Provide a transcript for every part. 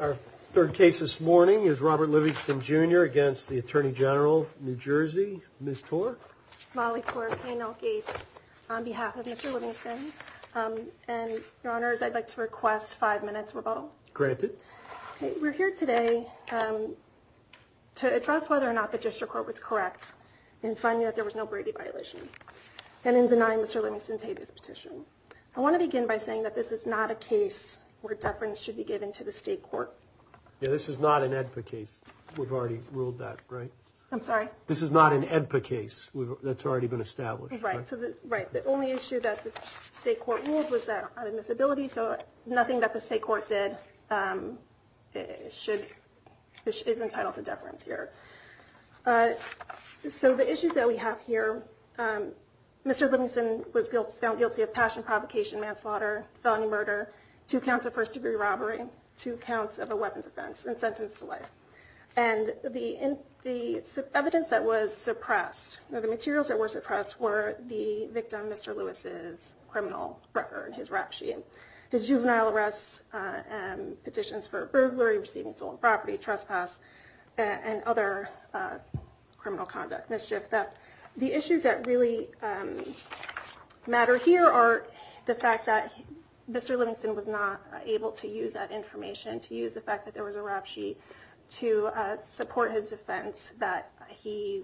Our third case this morning is Robert Livingston Jr. against the Attorney General of New Jersey, Ms. Torr. Molly Torr, K&L Gates, on behalf of Mr. Livingston. And, Your Honors, I'd like to request five minutes rebuttal. Granted. We're here today to address whether or not the district court was correct in finding that there was no Brady violation and in denying Mr. Livingston's hated petition. I want to begin by saying that this is not a case where deference should be given to the state court. This is not an AEDPA case. We've already ruled that, right? I'm sorry? This is not an AEDPA case that's already been established. Right. The only issue that the state court ruled was that of admissibility, so nothing that the state court did is entitled to deference here. So the issues that we have here, Mr. Livingston was found guilty of passion provocation, manslaughter, felony murder, two counts of first degree robbery, two counts of a weapons offense, and sentence to life. And the evidence that was suppressed, the materials that were suppressed, were the victim, Mr. Lewis's criminal record, his rap sheet, his juvenile arrests, petitions for burglary, receiving stolen property, trespass, and other criminal conduct, mischief, theft. The issues that really matter here are the fact that Mr. Livingston was not able to use that information, to use the fact that there was a rap sheet, to support his defense that he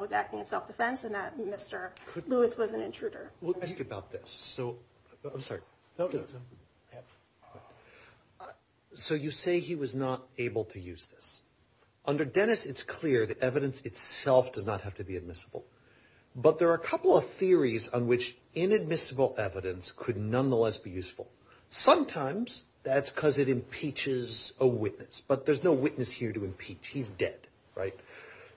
was acting in self-defense and that Mr. Lewis was an intruder. We'll ask you about this. So you say he was not able to use this. Under Dennis, it's clear that evidence itself does not have to be admissible, but there are a couple of theories on which inadmissible evidence could nonetheless be useful. Sometimes that's because it impeaches a witness, but there's no witness here to impeach. He's dead. Right.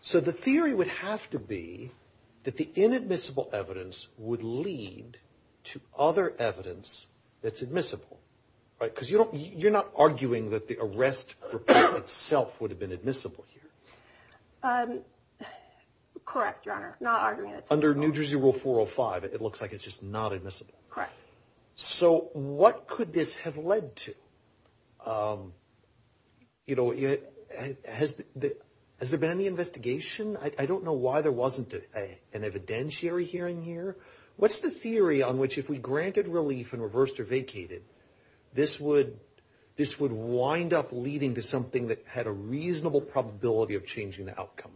So the theory would have to be that the inadmissible evidence would lead to other evidence that's admissible, right? Because you're not arguing that the arrest report itself would have been admissible here. Correct, Your Honor. Not arguing that's admissible. Under New Jersey Rule 405, it looks like it's just not admissible. Correct. So what could this have led to? You know, has there been any investigation? I don't know why there wasn't an evidentiary hearing here. What's the theory on which if we granted relief and reversed or vacated, this would wind up leading to something that had a reasonable probability of changing the outcome?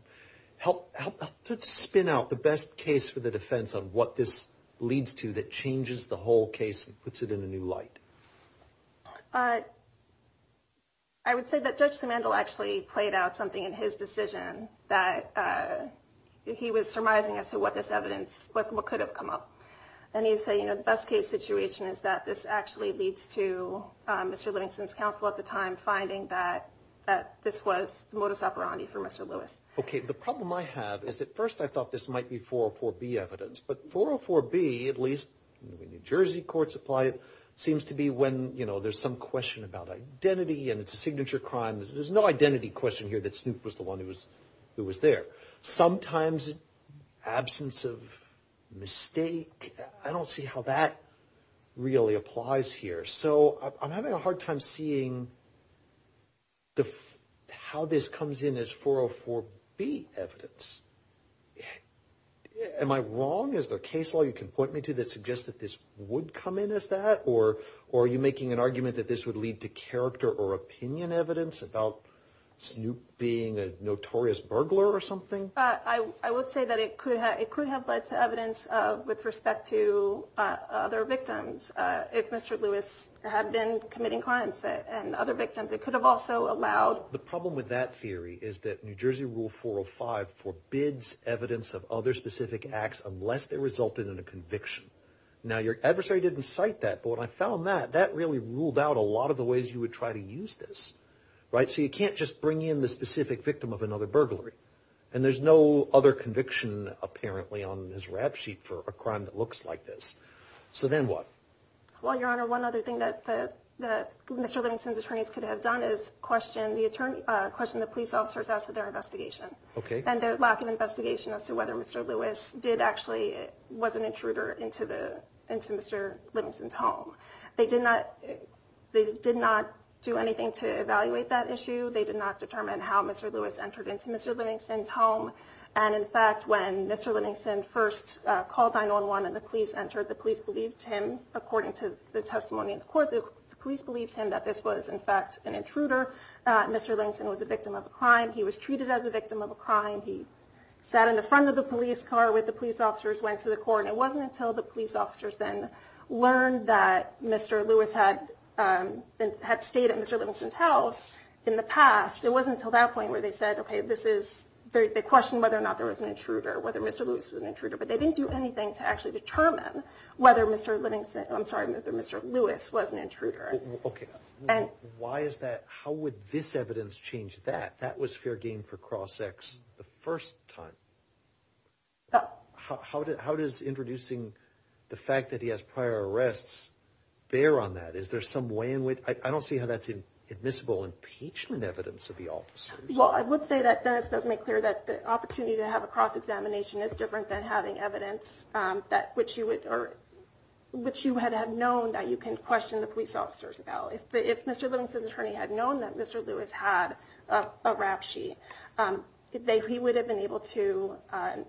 Spin out the best case for the defense on what this leads to that changes the whole case and puts it in a new light. I would say that Judge Simandl actually played out something in his decision that he was surmising as to what this evidence could have come up. And he would say, you know, the best case situation is that this actually leads to Mr. Livingston's counsel at the time finding that this was modus operandi for Mr. Lewis. Okay. The problem I have is at first I thought this might be 404B evidence. But 404B, at least New Jersey courts apply it, seems to be when, you know, there's some question about identity and it's a signature crime. There's no identity question here that Snoop was the one who was there. Sometimes absence of mistake, I don't see how that really applies here. So I'm having a hard time seeing how this comes in as 404B evidence. Am I wrong? Is there a case law you can point me to that suggests that this would come in as that? Or are you making an argument that this would lead to character or opinion evidence about Snoop being a notorious burglar or something? I would say that it could have led to evidence with respect to other victims. If Mr. Lewis had been committing crimes and other victims, it could have also allowed. The problem with that theory is that New Jersey Rule 405 forbids evidence of other specific acts unless they resulted in a conviction. Now, your adversary didn't cite that. But what I found that that really ruled out a lot of the ways you would try to use this. Right. So you can't just bring in the specific victim of another burglary. And there's no other conviction, apparently, on his rap sheet for a crime that looks like this. So then what? Well, Your Honor, one other thing that Mr. Livingston's attorneys could have done is question the police officers as to their investigation. And their lack of investigation as to whether Mr. Lewis did actually was an intruder into Mr. Livingston's home. They did not do anything to evaluate that issue. They did not determine how Mr. Lewis entered into Mr. Livingston's home. And in fact, when Mr. Livingston first called 9-1-1 and the police entered, the police believed him, according to the testimony in court, the police believed him that this was, in fact, an intruder. Mr. Livingston was a victim of a crime. He was treated as a victim of a crime. He sat in the front of the police car with the police officers, went to the court. And it wasn't until the police officers then learned that Mr. Lewis had stayed at Mr. Livingston's house in the past, it wasn't until that point where they said, OK, this is, they questioned whether or not there was an intruder, whether Mr. Lewis was an intruder. But they didn't do anything to actually determine whether Mr. Livingston, I'm sorry, whether Mr. Lewis was an intruder. OK. Why is that? How would this evidence change that? That was fair game for Crossex the first time. How does introducing the fact that he has prior arrests bear on that? Is there some way in which I don't see how that's admissible impeachment evidence of the officers? Well, I would say that this does make clear that the opportunity to have a cross examination is different than having evidence that which you would or which you had had known that you can question the police officers about. If Mr. Livingston's attorney had known that Mr. Lewis had a rap sheet, he would have been able to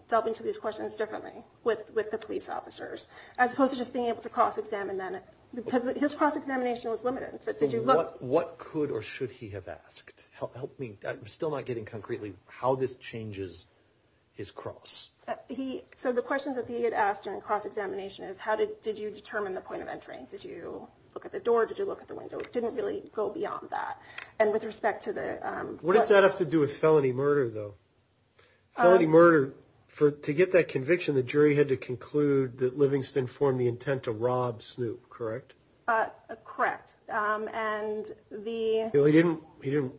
delve into these questions differently with with the police officers as opposed to just being able to cross examine them. Because his cross examination was limited. What could or should he have asked? Help me. I'm still not getting concretely how this changes his cross. He said the questions that he had asked during cross examination is how did did you determine the point of entry? Did you look at the door? Did you look at the window? It didn't really go beyond that. And with respect to the. What does that have to do with felony murder, though? Murder for to get that conviction, the jury had to conclude that Livingston formed the intent to rob Snoop. Correct. Correct. And the. He didn't he didn't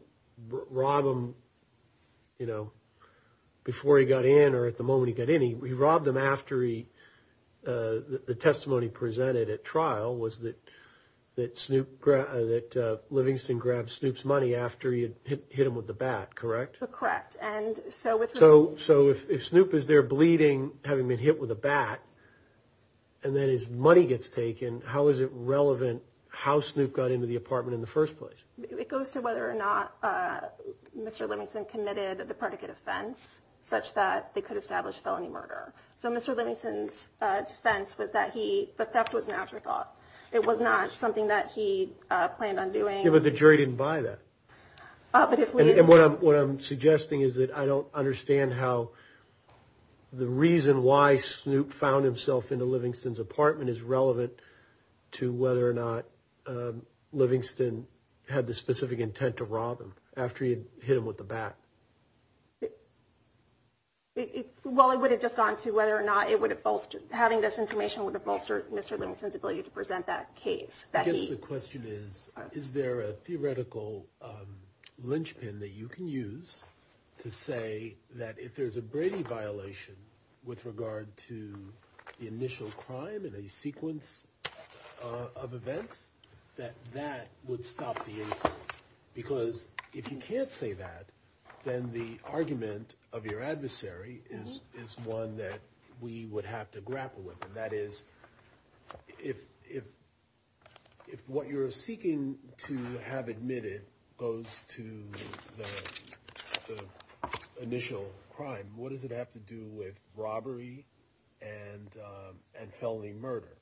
rob him, you know, before he got in or at the moment he got in. He robbed him after he the testimony presented at trial was that that Snoop that Livingston grabbed Snoop's money after he hit him with the bat. Correct. Correct. And so. So. So if Snoop is there bleeding, having been hit with a bat and then his money gets taken, how is it relevant how Snoop got into the apartment in the first place? It goes to whether or not Mr. Livingston committed the predicate offense such that they could establish felony murder. So Mr. Livingston's defense was that he the theft was an afterthought. It was not something that he planned on doing. But the jury didn't buy that. But what I'm what I'm suggesting is that I don't understand how. The reason why Snoop found himself in the Livingston's apartment is relevant to whether or not Livingston had the specific intent to rob him after he hit him with the bat. Well, it would have just gone to whether or not it would have bolstered having this information with the bolstered Mr. Livingston's ability to present that case. The question is, is there a theoretical linchpin that you can use to say that if there's a Brady violation with regard to the initial crime and a sequence of events that that would stop? Because if you can't say that, then the argument of your adversary is is one that we would have to grapple with. That is, if if if what you're seeking to have admitted goes to the initial crime, what does it have to do with robbery and and felony murder?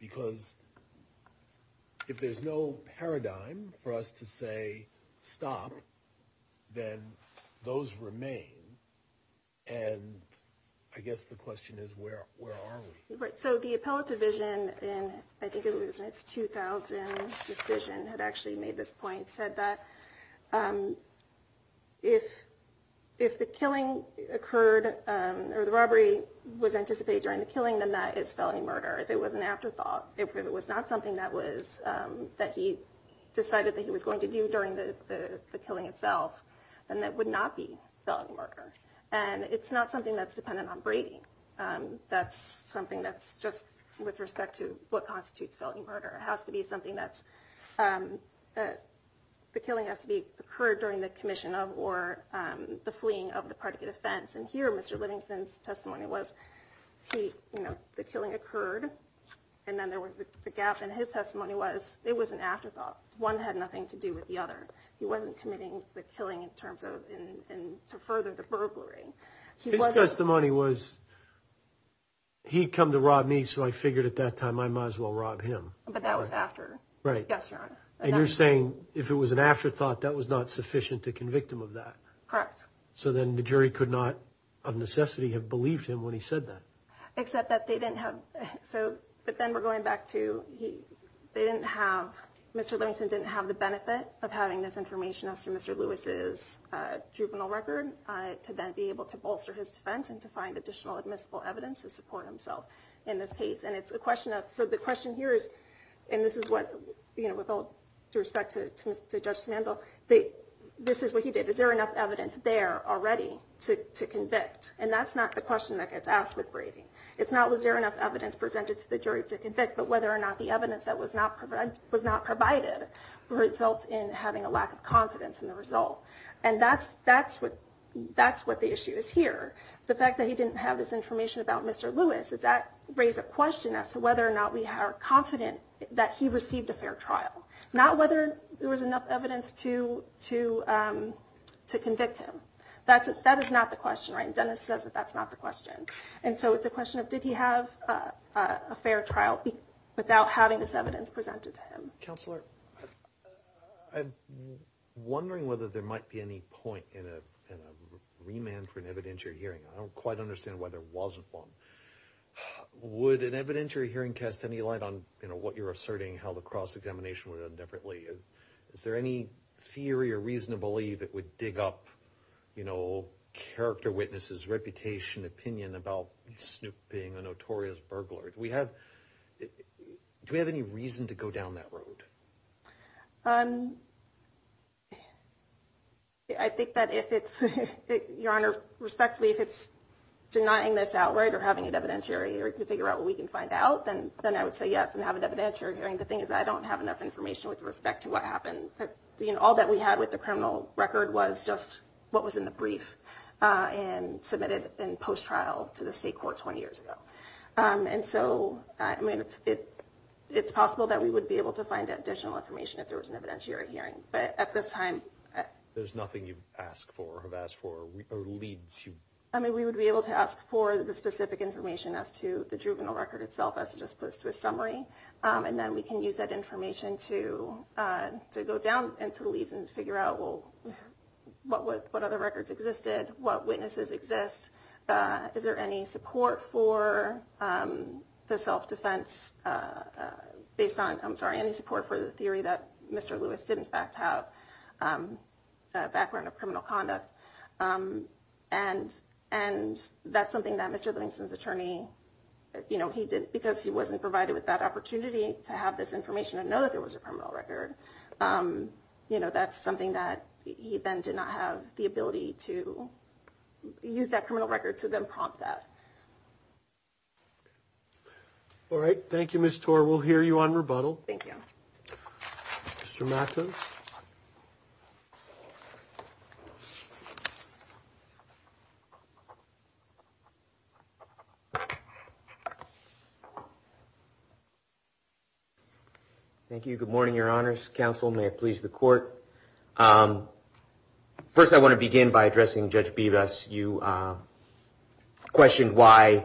Because if there's no paradigm for us to say, stop, then those remain. And I guess the question is, where are we? Right. So the appellate division, and I think it was in its 2000 decision, had actually made this point, said that if if the killing occurred or the robbery was anticipated during the killing, then that is felony murder. If it was an afterthought, if it was not something that was that he decided that he was going to do during the killing itself, then that would not be felony murder. And it's not something that's dependent on Brady. That's something that's just with respect to what constitutes felony murder. It has to be something that's that the killing has to be occurred during the commission of or the fleeing of the predicate offense. And here, Mr. Livingston's testimony was, you know, the killing occurred and then there was a gap. And his testimony was it was an afterthought. One had nothing to do with the other. He wasn't committing the killing in terms of further the burglary. The money was. He come to rob me, so I figured at that time I might as well rob him. But that was after. Right. Yes. And you're saying if it was an afterthought, that was not sufficient to convict him of that. Correct. So then the jury could not of necessity have believed him when he said that. Except that they didn't have. So but then we're going back to he didn't have Mr. Livingston didn't have the benefit of having this information as to Mr. Lewis's juvenile record to then be able to bolster his defense and to find additional admissible evidence to support himself in this case. And it's a question of. So the question here is and this is what you know, with all due respect to Mr. Sandoval, that this is what he did. Is there enough evidence there already to to convict? And that's not the question that gets asked with Brady. It's not. Was there enough evidence presented to the jury to convict? But whether or not the evidence that was not was not provided results in having a lack of confidence in the result. And that's that's what that's what the issue is here. The fact that he didn't have this information about Mr. Lewis is that raise a question as to whether or not we are confident that he received a fair trial, not whether there was enough evidence to to to convict him. That's it. That is not the question. Right. Dennis says that that's not the question. And so it's a question of did he have a fair trial without having this evidence presented to him? Counselor, I'm wondering whether there might be any point in a remand for an evidentiary hearing. I don't quite understand why there wasn't one. Would an evidentiary hearing cast any light on what you're asserting, how the cross examination would differently? Is there any theory or reason to believe it would dig up, you know, character, witnesses, reputation, opinion about Snoop being a notorious burglar? We have. Do we have any reason to go down that road? I think that if it's your honor, respectfully, if it's denying this outright or having an evidentiary to figure out what we can find out, then then I would say, yes, and have an evidentiary hearing. The thing is, I don't have enough information with respect to what happened. You know, all that we had with the criminal record was just what was in the brief and submitted in post trial to the state court 20 years ago. And so, I mean, it's it's possible that we would be able to find additional information if there was an evidentiary hearing. But at this time, there's nothing you've asked for, have asked for leads. I mean, we would be able to ask for the specific information as to the juvenile record itself as opposed to a summary. And then we can use that information to to go down into the leaves and figure out what what what other records existed, what witnesses exist. Is there any support for the self-defense based on I'm sorry, any support for the theory that Mr. Lewis did, in fact, have a background of criminal conduct. And and that's something that Mr. Livingston's attorney, you know, he did because he wasn't provided with that opportunity to have this information and know that there was a criminal record. That's something that he then did not have the ability to use that criminal record to then prompt that. All right. Thank you, Mr. We'll hear you on rebuttal. Thank you. Mr. Matthews. Thank you. Good morning, Your Honor's counsel. May it please the court. First, I want to begin by addressing Judge Bevis. You questioned why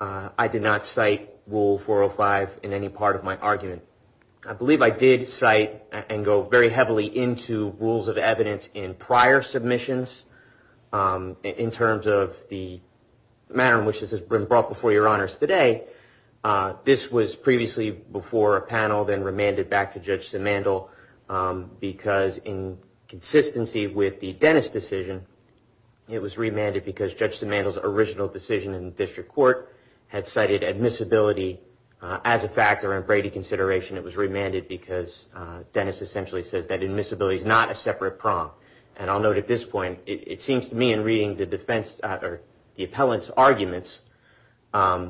I did not cite rule four or five in any part of my argument. I believe I did cite and go very heavily into rules of evidence in prior submissions in terms of the manner in which this has been brought before your It was remanded because Judge Samantha's original decision in district court had cited admissibility as a factor in Brady consideration. It was remanded because Dennis essentially says that admissibility is not a separate prompt. And I'll note at this point, it seems to me in reading the defense or the appellant's arguments, you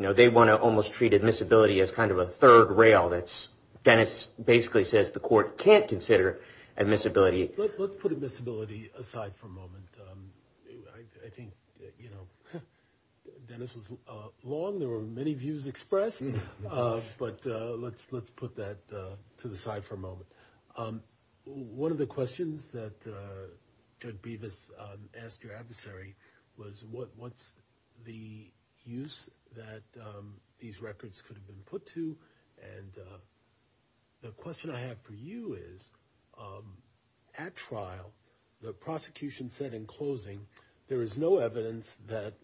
know, they want to almost treat admissibility as kind of a third rail that's Dennis basically says the court can't consider admissibility. Let's put admissibility aside for a moment. I think, you know, Dennis was long. There were many views expressed. But let's let's put that to the side for a moment. One of the questions that could be this asked your adversary was what what's the use that these records could have been put to? And the question I have for you is at trial, the prosecution said in closing, there is no evidence that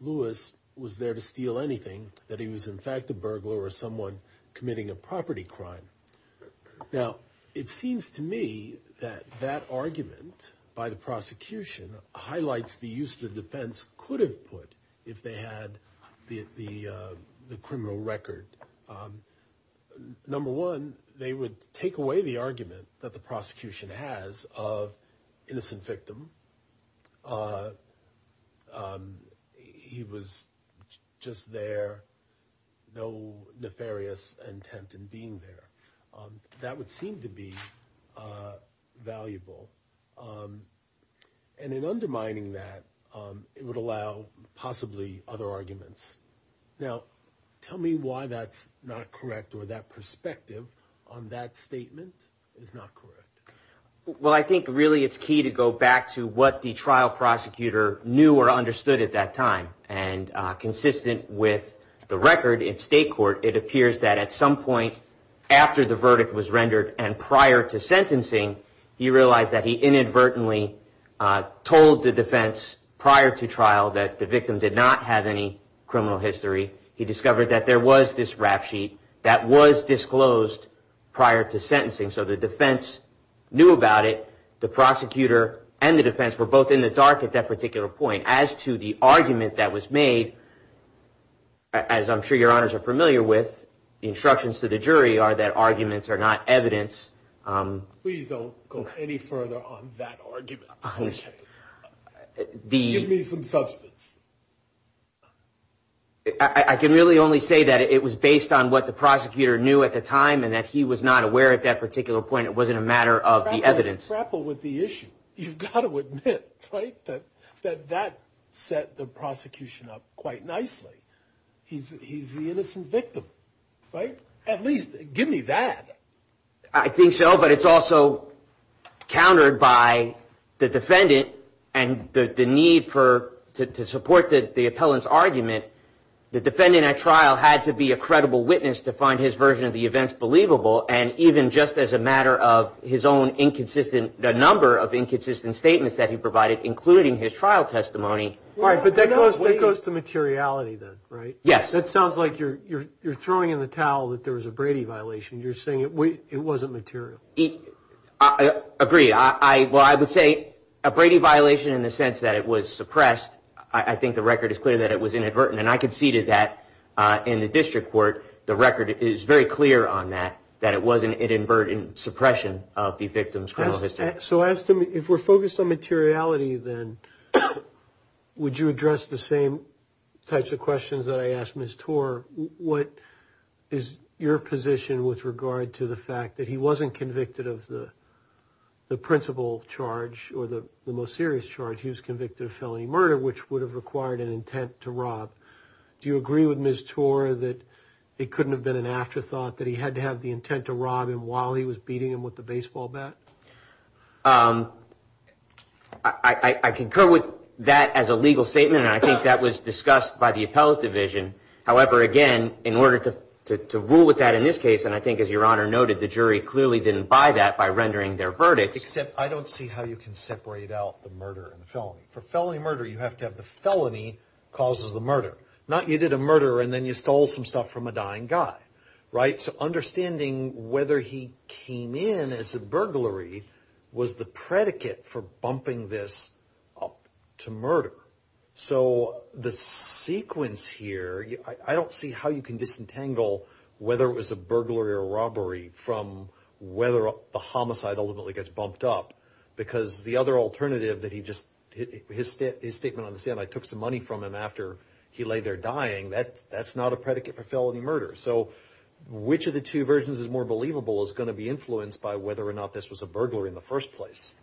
Lewis was there to steal anything, that he was, in fact, a burglar or someone committing a property crime. Now, it seems to me that that argument by the prosecution highlights the use the defense could have put if they had the the criminal record. Number one, they would take away the argument that the prosecution has of innocent victim. He was just there. No nefarious intent in being there. That would seem to be valuable. And in undermining that, it would allow possibly other arguments. Now, tell me why that's not correct or that perspective on that statement is not correct. Well, I think really it's key to go back to what the trial prosecutor knew or understood at that time. And consistent with the record in state court, it appears that at some point after the verdict was rendered and prior to sentencing, he realized that he inadvertently told the defense prior to trial that the victim did not have any criminal history. He discovered that there was this rap sheet that was disclosed prior to sentencing. So the defense knew about it. The prosecutor and the defense were both in the dark at that particular point as to the argument that was made. As I'm sure your honors are familiar with, the instructions to the jury are that arguments are not evidence. Please don't go any further on that argument. The give me some substance. I can really only say that it was based on what the prosecutor knew at the time and that he was not aware at that particular point. It wasn't a matter of the evidence grapple with the issue. You've got to admit that that set the prosecution up quite nicely. He's he's the innocent victim. Right. At least give me that. I think so. But it's also countered by the defendant and the need for to support the appellant's argument. The defendant at trial had to be a credible witness to find his version of the events believable. And even just as a matter of his own inconsistent, the number of inconsistent statements that he provided, including his trial testimony. All right. But that goes that goes to materiality. Right. Yes. That sounds like you're you're you're throwing in the towel that there was a Brady violation. You're saying it wasn't material. I agree. I well, I would say a Brady violation in the sense that it was suppressed. I think the record is clear that it was inadvertent. And I conceded that in the district court. The record is very clear on that, that it wasn't inadvertent suppression of the victim's criminal history. So as to me, if we're focused on materiality, then would you address the same types of questions that I asked Miss Tor? What is your position with regard to the fact that he wasn't convicted of the principal charge or the most serious charge? He was convicted of felony murder, which would have required an intent to rob. Do you agree with Miss Tor that it couldn't have been an afterthought that he had to have the intent to rob him while he was beating him with the baseball bat? I concur with that as a legal statement, and I think that was discussed by the appellate division. However, again, in order to rule with that in this case, and I think, as your honor noted, the jury clearly didn't buy that by rendering their verdict. Except I don't see how you can separate out the murder and felony for felony murder. You have to have the felony causes the murder, not you did a murder and then you stole some stuff from a dying guy. Right. So understanding whether he came in as a burglary was the predicate for bumping this up to murder. So the sequence here, I don't see how you can disentangle whether it was a burglary or robbery from whether the homicide ultimately gets bumped up. Because the other alternative that he just his statement on the scene, I took some money from him after he lay there dying. That that's not a predicate for felony murder. So which of the two versions is more believable is going to be influenced by whether or not this was a burglary in the first place.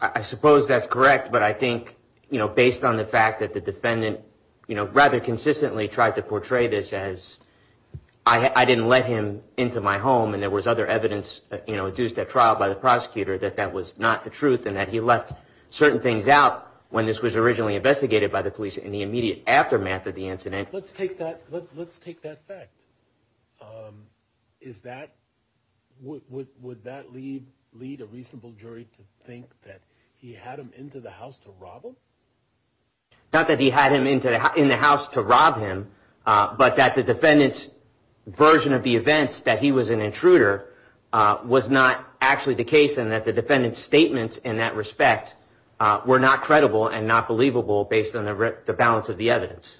I suppose that's correct, but I think, you know, based on the fact that the defendant, you know, rather consistently tried to portray this as I didn't let him into my home. And there was other evidence, you know, adduced at trial by the prosecutor that that was not the truth and that he left certain things out when this was originally investigated by the police in the immediate aftermath of the incident. Let's take that. Let's take that fact. Is that what would that lead lead a reasonable jury to think that he had him into the house to rob him? Not that he had him into the house to rob him, but that the defendant's version of the events that he was an intruder was not actually the case and that the defendant's statements in that respect were not credible and not believable based on the balance of the evidence.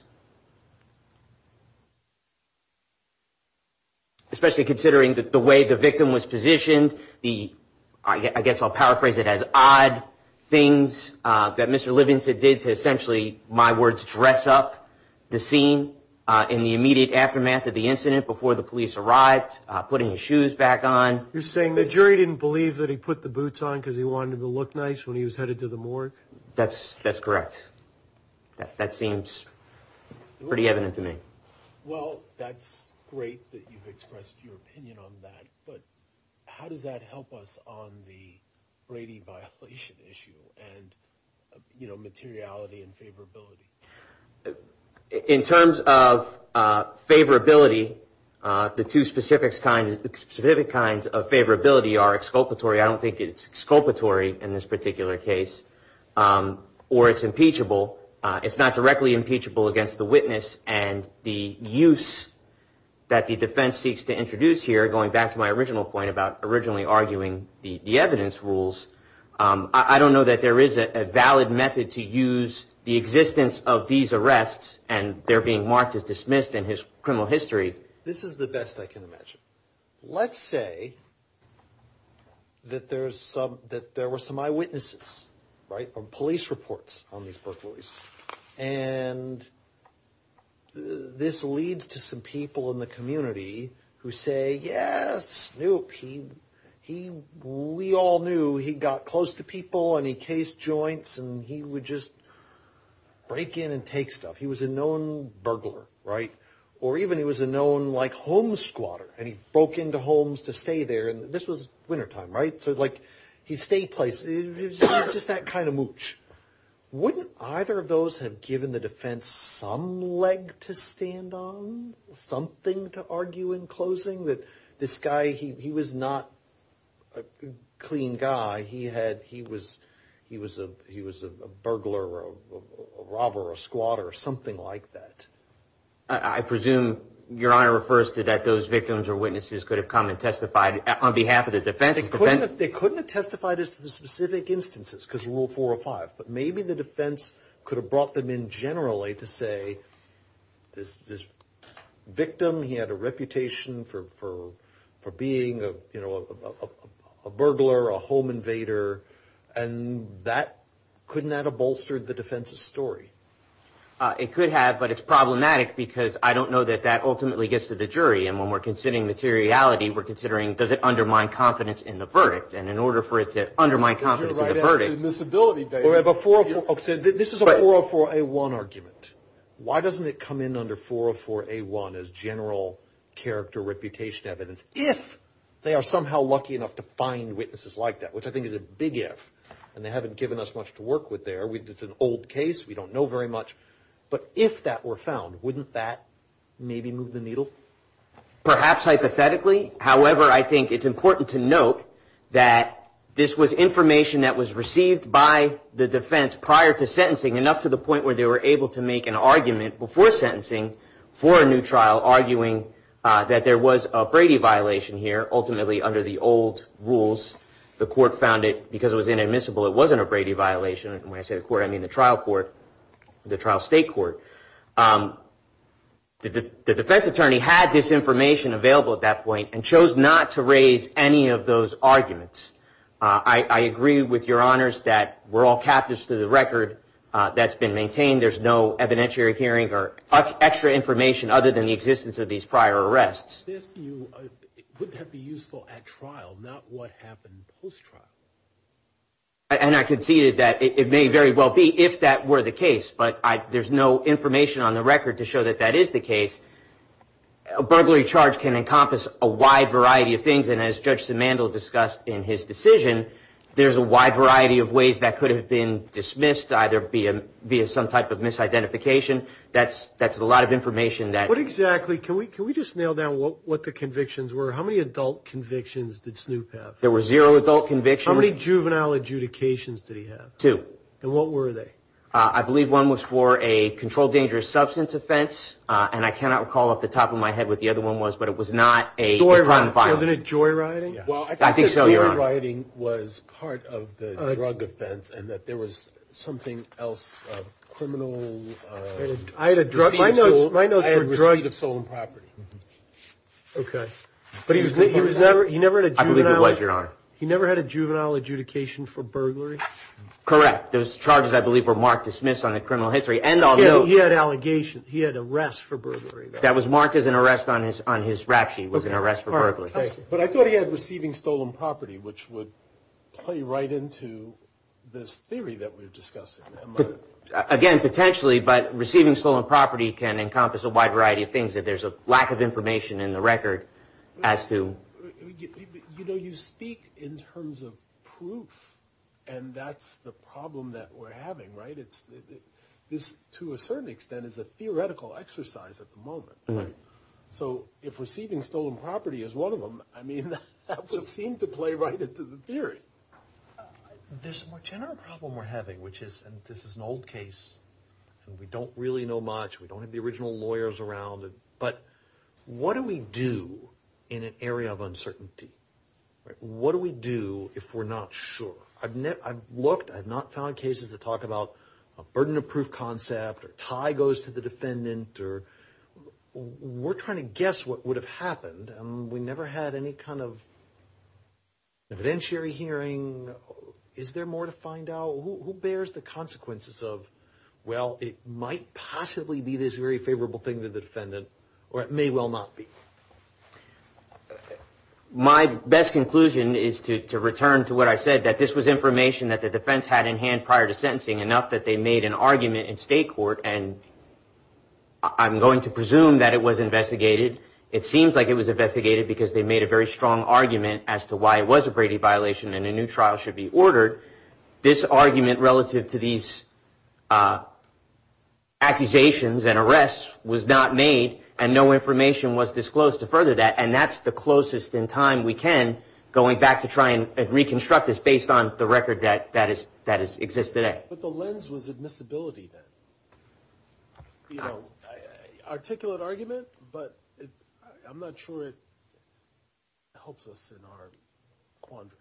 Especially considering the way the victim was positioned, the I guess I'll paraphrase it as odd things that Mr. Livingston did to essentially, my words, dress up the scene in the immediate aftermath of the incident before the police arrived, putting his shoes back on. You're saying the jury didn't believe that he put the boots on because he wanted to look nice when he was headed to the morgue. That's correct. That seems pretty evident to me. Well, that's great that you've expressed your opinion on that, but how does that help us on the Brady violation issue and, you know, materiality and favorability? In terms of favorability, the two specific kinds of favorability are exculpatory, I don't think it's exculpatory in this particular case, or it's impeachable. It's not directly impeachable against the witness and the use that the defense seeks to introduce here, going back to my original point about originally arguing the evidence rules. I don't know that there is a valid method to use the existence of these arrests and their being marked as dismissed in criminal history. This is the best I can imagine. Let's say that there were some eyewitnesses, right, or police reports on these burglaries. And this leads to some people in the community who say, yes, Snoop, we all knew he got close to people and he cased joints and he would just break in and take stuff. He was a known burglar, right? Or even he was a known, like, home squatter, and he broke into homes to stay there, and this was wintertime, right? So, like, he stayed places. He was just that kind of mooch. Wouldn't either of those have given the defense some leg to stand on, something to argue in closing, that this guy, he was not a clean guy. He was a burglar or a robber or a squatter or something like that. I presume your honor refers to that those victims or witnesses could have come and testified on behalf of the defense. They couldn't have testified as to the specific instances because of Rule 405. But maybe the defense could have brought them in generally to say this victim, he had a reputation for being a burglar, a home invader, and couldn't that have bolstered the defense's story? It could have, but it's problematic because I don't know that that ultimately gets to the jury. And when we're considering materiality, we're considering does it undermine confidence in the verdict. This is a 404A1 argument. Why doesn't it come in under 404A1 as general character reputation evidence if they are somehow lucky enough to find witnesses like that, which I think is a big if. And they haven't given us much to work with there. It's an old case. We don't know very much. But if that were found, wouldn't that maybe move the needle? Perhaps hypothetically. However, I think it's important to note that this was information that was received by the defense prior to sentencing, enough to the point where they were able to make an argument before sentencing for a new trial, arguing that there was a Brady violation here. Ultimately, under the old rules, the court found it because it was inadmissible. It wasn't a Brady violation. And when I say the court, I mean the trial court, the trial state court. The defense attorney had this information available at that point and chose not to raise any of those arguments. I agree with your honors that we're all captives to the record that's been maintained. There's no evidentiary hearing or extra information other than the existence of these prior arrests. This would have been useful at trial, not what happened post-trial. And I conceded that it may very well be if that were the case. But there's no information on the record to show that that is the case. A burglary charge can encompass a wide variety of things. And as Judge Simandl discussed in his decision, there's a wide variety of ways that could have been dismissed, either via some type of misidentification. That's a lot of information that — What exactly? Can we just nail down what the convictions were? How many adult convictions did Snoop have? There were zero adult convictions. How many juvenile adjudications did he have? Two. And what were they? I believe one was for a controlled dangerous substance offense. And I cannot recall off the top of my head what the other one was, but it was not a — Joyriding. Wasn't it joyriding? I think so, Your Honor. Well, I think that joyriding was part of the drug offense and that there was something else, a criminal — I had a drug — My notes were drug. I had receipt of stolen property. Okay. But he was never — he never had a juvenile — I believe he was, Your Honor. He never had a juvenile adjudication for burglary? Correct. Those charges, I believe, were marked dismissed on the criminal history. And I'll note — He had allegations. He had arrests for burglary. That was marked as an arrest on his rapshie, was an arrest for burglary. But I thought he had receiving stolen property, which would play right into this theory that we're discussing. Again, potentially, but receiving stolen property can encompass a wide variety of things. If there's a lack of information in the record as to — You know, you speak in terms of proof, and that's the problem that we're having, right? This, to a certain extent, is a theoretical exercise at the moment. So if receiving stolen property is one of them, I mean, that would seem to play right into the theory. There's a more general problem we're having, which is — and this is an old case, and we don't really know much. We don't have the original lawyers around. But what do we do in an area of uncertainty? What do we do if we're not sure? I've looked. I've not found cases that talk about a burden of proof concept or tie goes to the defendant. We're trying to guess what would have happened. We never had any kind of evidentiary hearing. Is there more to find out? Who bears the consequences of, well, it might possibly be this very favorable thing to the defendant, or it may well not be? My best conclusion is to return to what I said, that this was information that the defense had in hand prior to sentencing, enough that they made an argument in state court, and I'm going to presume that it was investigated. It seems like it was investigated because they made a very strong argument as to why it was a Brady violation and a new trial should be ordered. This argument relative to these accusations and arrests was not made, and no information was disclosed to further that, and that's the closest in time we can, going back to try and reconstruct this based on the record that exists today. But the lens was admissibility then. Articulate argument, but I'm not sure it helps us in our quandary.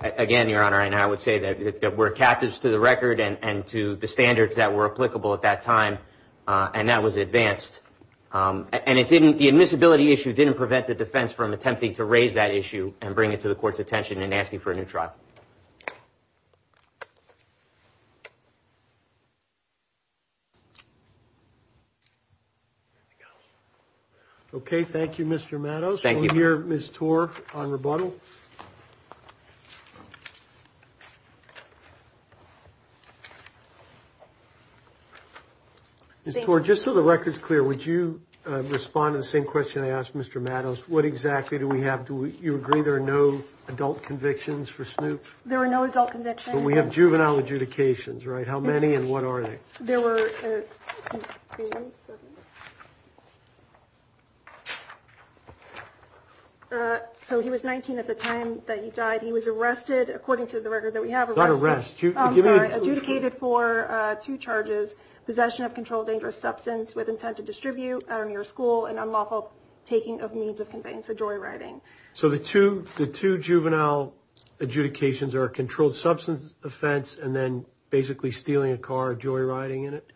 Again, Your Honor, and I would say that we're captives to the record and to the standards that were applicable at that time, and that was advanced. And the admissibility issue didn't prevent the defense from attempting to raise that issue and bring it to the court's attention and asking for a new trial. Okay, thank you, Mr. Matos. Thank you. We'll hear Ms. Torr on rebuttal. Ms. Torr, just so the record's clear, would you respond to the same question I asked Mr. Matos? What exactly do we have? Do you agree there are no adult convictions for Snoop? There are no adult convictions. But we have juvenile adjudications, right? How many and what are they? There were 19. So he was 19 at the time that he died. He was arrested according to the record that we have. Not arrested. I'm sorry, adjudicated for two charges, possession of controlled dangerous substance with intent to distribute near a school and unlawful taking of means of conveyance of joyriding. So the two juvenile adjudications are a controlled substance offense and then basically stealing a car, joyriding in it?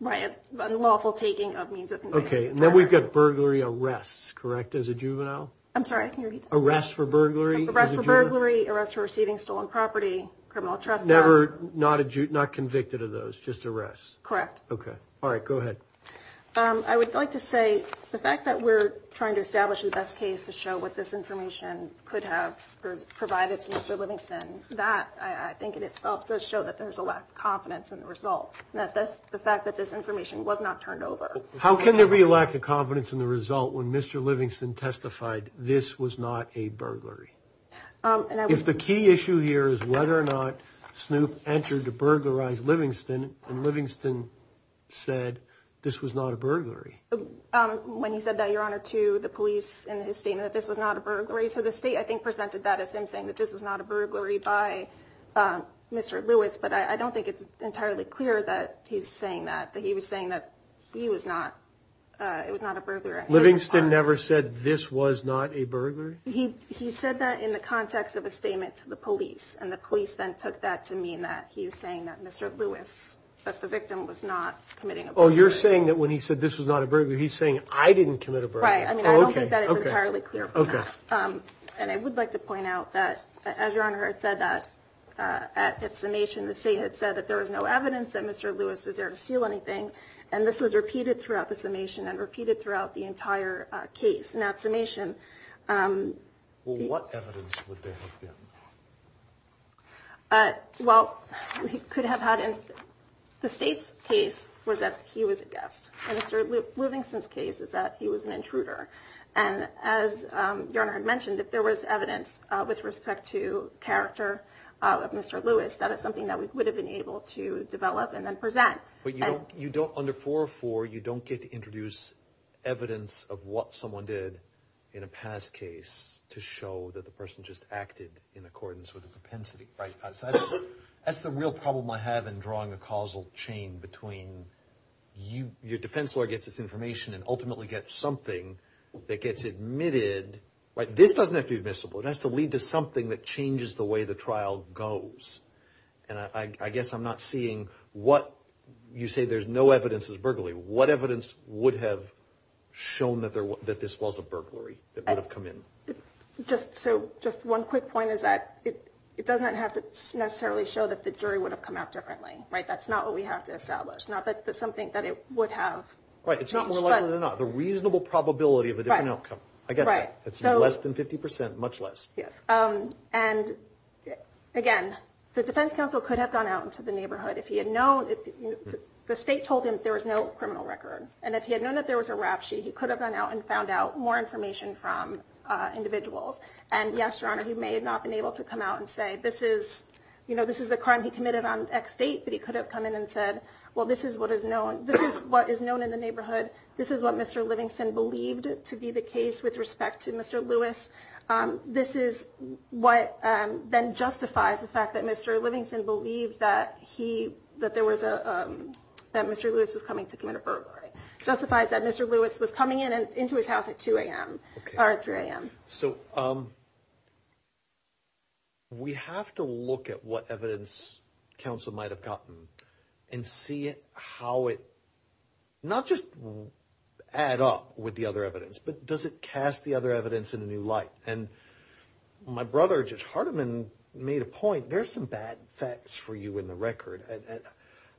Right, unlawful taking of means of conveyance of joyriding. Okay, and then we've got burglary arrests, correct, as a juvenile? I'm sorry, can you repeat that? Arrests for burglary as a juvenile? Arrests for burglary, arrests for receiving stolen property, criminal trespass. Not convicted of those, just arrests? Correct. Okay. All right, go ahead. I would like to say the fact that we're trying to establish the best case to show what this information could have provided to Mr. Livingston, that I think in itself does show that there's a lack of confidence in the result, the fact that this information was not turned over. How can there be a lack of confidence in the result when Mr. Livingston testified this was not a burglary? If the key issue here is whether or not Snoop entered to burglarize Livingston and Livingston said this was not a burglary. When he said that, Your Honor, to the police in his statement that this was not a burglary, so the state I think presented that as him saying that this was not a burglary by Mr. Lewis, but I don't think it's entirely clear that he's saying that, that he was saying that he was not, it was not a burglary. Livingston never said this was not a burglary? He said that in the context of a statement to the police, and the police then took that to mean that he was saying that Mr. Lewis, that the victim was not committing a burglary. Oh, you're saying that when he said this was not a burglary, he's saying I didn't commit a burglary. Right. I mean, I don't think that it's entirely clear from that. And I would like to point out that, as Your Honor had said that, at summation the state had said that there was no evidence that Mr. Lewis was there to steal anything, and this was repeated throughout the summation and repeated throughout the entire case. Well, what evidence would there have been? Well, we could have had in the state's case was that he was a guest. In Mr. Livingston's case is that he was an intruder. And as Your Honor had mentioned, if there was evidence with respect to character of Mr. Lewis, that is something that we would have been able to develop and then present. But you don't, under 404, you don't get to introduce evidence of what someone did in a past case to show that the person just acted in accordance with the propensity. That's the real problem I have in drawing a causal chain between your defense lawyer gets this information and ultimately gets something that gets admitted. This doesn't have to be admissible. It has to lead to something that changes the way the trial goes. And I guess I'm not seeing what you say there's no evidence of burglary. What evidence would have shown that this was a burglary that would have come in? Just one quick point is that it doesn't have to necessarily show that the jury would have come out differently. That's not what we have to establish. Not that there's something that it would have. Right. It's not more likely than not. The reasonable probability of a different outcome. I get that. It's less than 50 percent, much less. Yes. And, again, the defense counsel could have gone out into the neighborhood if he had known. The state told him there was no criminal record. And if he had known that there was a rap sheet, he could have gone out and found out more information from individuals. And, yes, Your Honor, he may have not been able to come out and say this is the crime he committed on X date. But he could have come in and said, well, this is what is known. This is what is known in the neighborhood. This is what Mr. Livingston believed to be the case with respect to Mr. Lewis. This is what then justifies the fact that Mr. Livingston believed that he, that there was a, that Mr. Lewis was coming to commit a burglary. Justifies that Mr. Lewis was coming into his house at 2 a.m. or 3 a.m. So we have to look at what evidence counsel might have gotten and see how it, not just add up with the other evidence, but does it cast the other evidence in a new light? And my brother, Judge Hardiman, made a point. There's some bad facts for you in the record.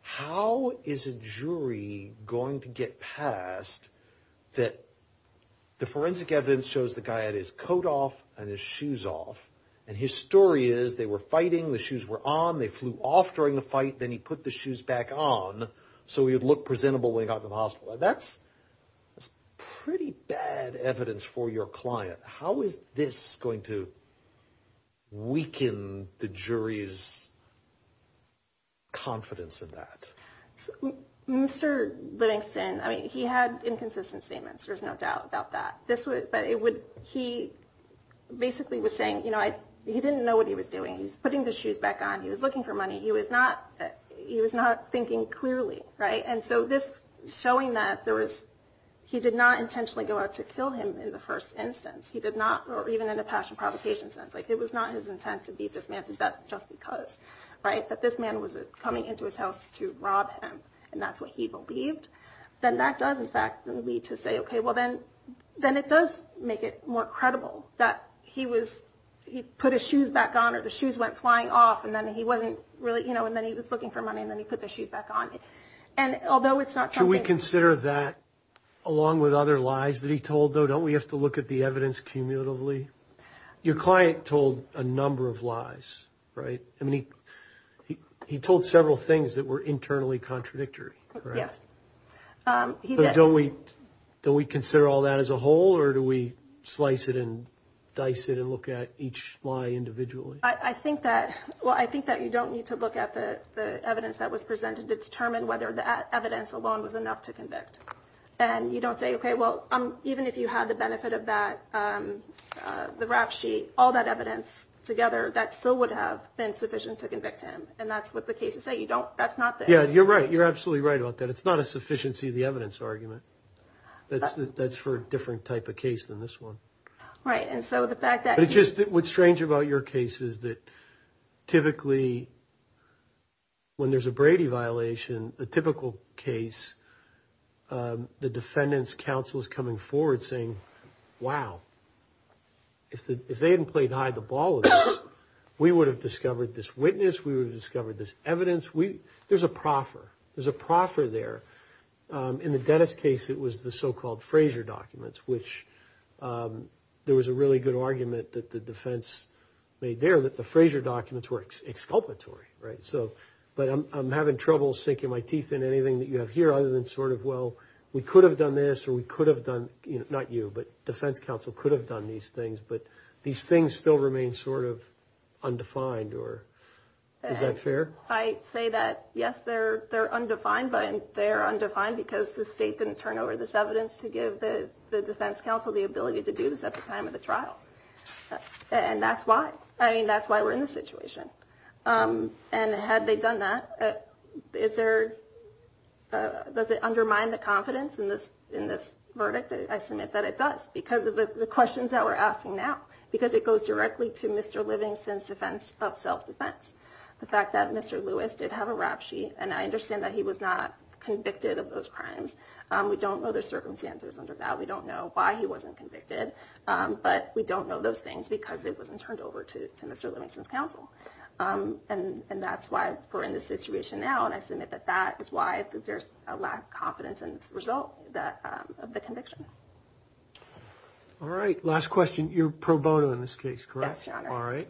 How is a jury going to get past that the forensic evidence shows the guy had his coat off and his shoes off? And his story is they were fighting. The shoes were on. They flew off during the fight. Then he put the shoes back on so he would look presentable when he got to the hospital. That's pretty bad evidence for your client. How is this going to weaken the jury's confidence in that? Mr. Livingston, I mean, he had inconsistent statements. There's no doubt about that. This was, but it would, he basically was saying, you know, he didn't know what he was doing. He was putting the shoes back on. He was looking for money. He was not, he was not thinking clearly. Right? And so this showing that there was, he did not intentionally go out to kill him in the first instance. He did not, or even in a passion provocation sense, like it was not his intent to be dismantled just because. Right? That this man was coming into his house to rob him. And that's what he believed. Then that does, in fact, lead to say, okay, well then, then it does make it more credible that he was, he put his shoes back on or the shoes went flying off and then he wasn't really, you know, and then he was looking for money and then he put the shoes back on. And although it's not. Should we consider that along with other lies that he told, though, don't we have to look at the evidence cumulatively? Your client told a number of lies, right? I mean, he, he, he told several things that were internally contradictory. Yes. Don't we, don't we consider all that as a whole or do we slice it and dice it and look at each lie individually? I think that, well, I think that you don't need to look at the evidence that was presented to determine whether the evidence alone was enough to convict. And you don't say, okay, well, even if you had the benefit of that, the rap sheet, all that evidence together, that still would have been sufficient to convict him. And that's what the cases say. You don't, that's not the. Yeah, you're right. You're absolutely right about that. It's not a sufficiency of the evidence argument. That's for a different type of case than this one. Right. And so the fact that. It's just, what's strange about your case is that typically when there's a Brady violation, the typical case the defendant's counsel is coming forward saying, wow, if they hadn't played hide the ball, we would have discovered this witness. We would have discovered this evidence. There's a proffer. There's a proffer there. In the Dennis case, it was the so-called Frazier documents, which there was a really good argument that the defense made there that the Frazier documents were exculpatory. Right. So but I'm having trouble sinking my teeth in anything that you have here other than sort of, well, we could have done this or we could have done not you, but defense counsel could have done these things. But these things still remain sort of undefined. Or is that fair? I say that, yes, they're undefined, but they're undefined because the state didn't turn over this evidence to give the defense counsel the ability to do this at the time of the trial. And that's why. I mean, that's why we're in this situation. And had they done that, is there. Does it undermine the confidence in this in this verdict? I submit that it does because of the questions that we're asking now, because it goes directly to Mr. Livingston's defense of self-defense. The fact that Mr. Lewis did have a rap sheet and I understand that he was not convicted of those crimes. We don't know the circumstances under that. We don't know why he wasn't convicted, but we don't know those things because it wasn't turned over to Mr. Livingston's counsel. And that's why we're in this situation now. And I submit that that is why there's a lack of confidence in the result of the conviction. All right. Last question. You're pro bono in this case, correct? All right.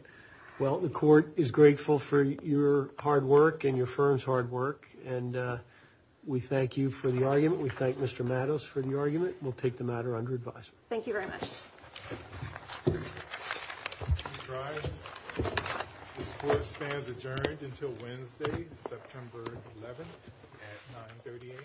Well, the court is grateful for your hard work and your firm's hard work. And we thank you for the argument. We thank Mr. Mattos for the argument. We'll take the matter under advice. Thank you very much. The sports fans adjourned until Wednesday, September 11th at 930 a.m. Yeah.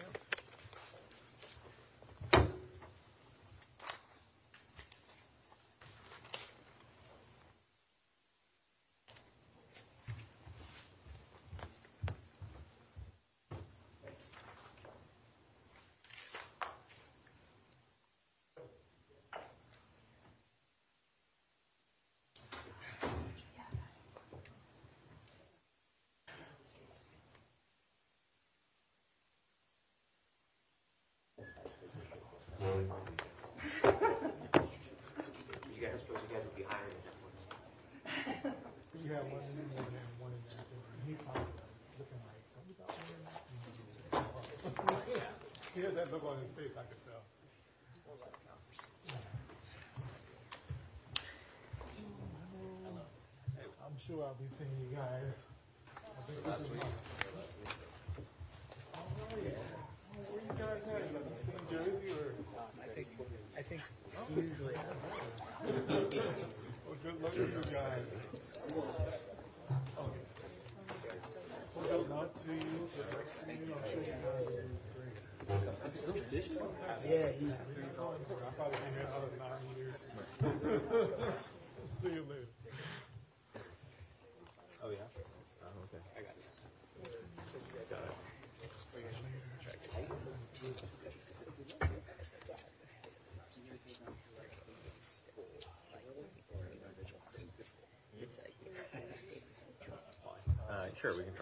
I'm sure I'll be seeing you guys. Oh, yeah. I think. I think. Oh, good luck, guys. Oh, yeah. Yeah. Oh, yeah. Oh, yeah. Sure, we can try.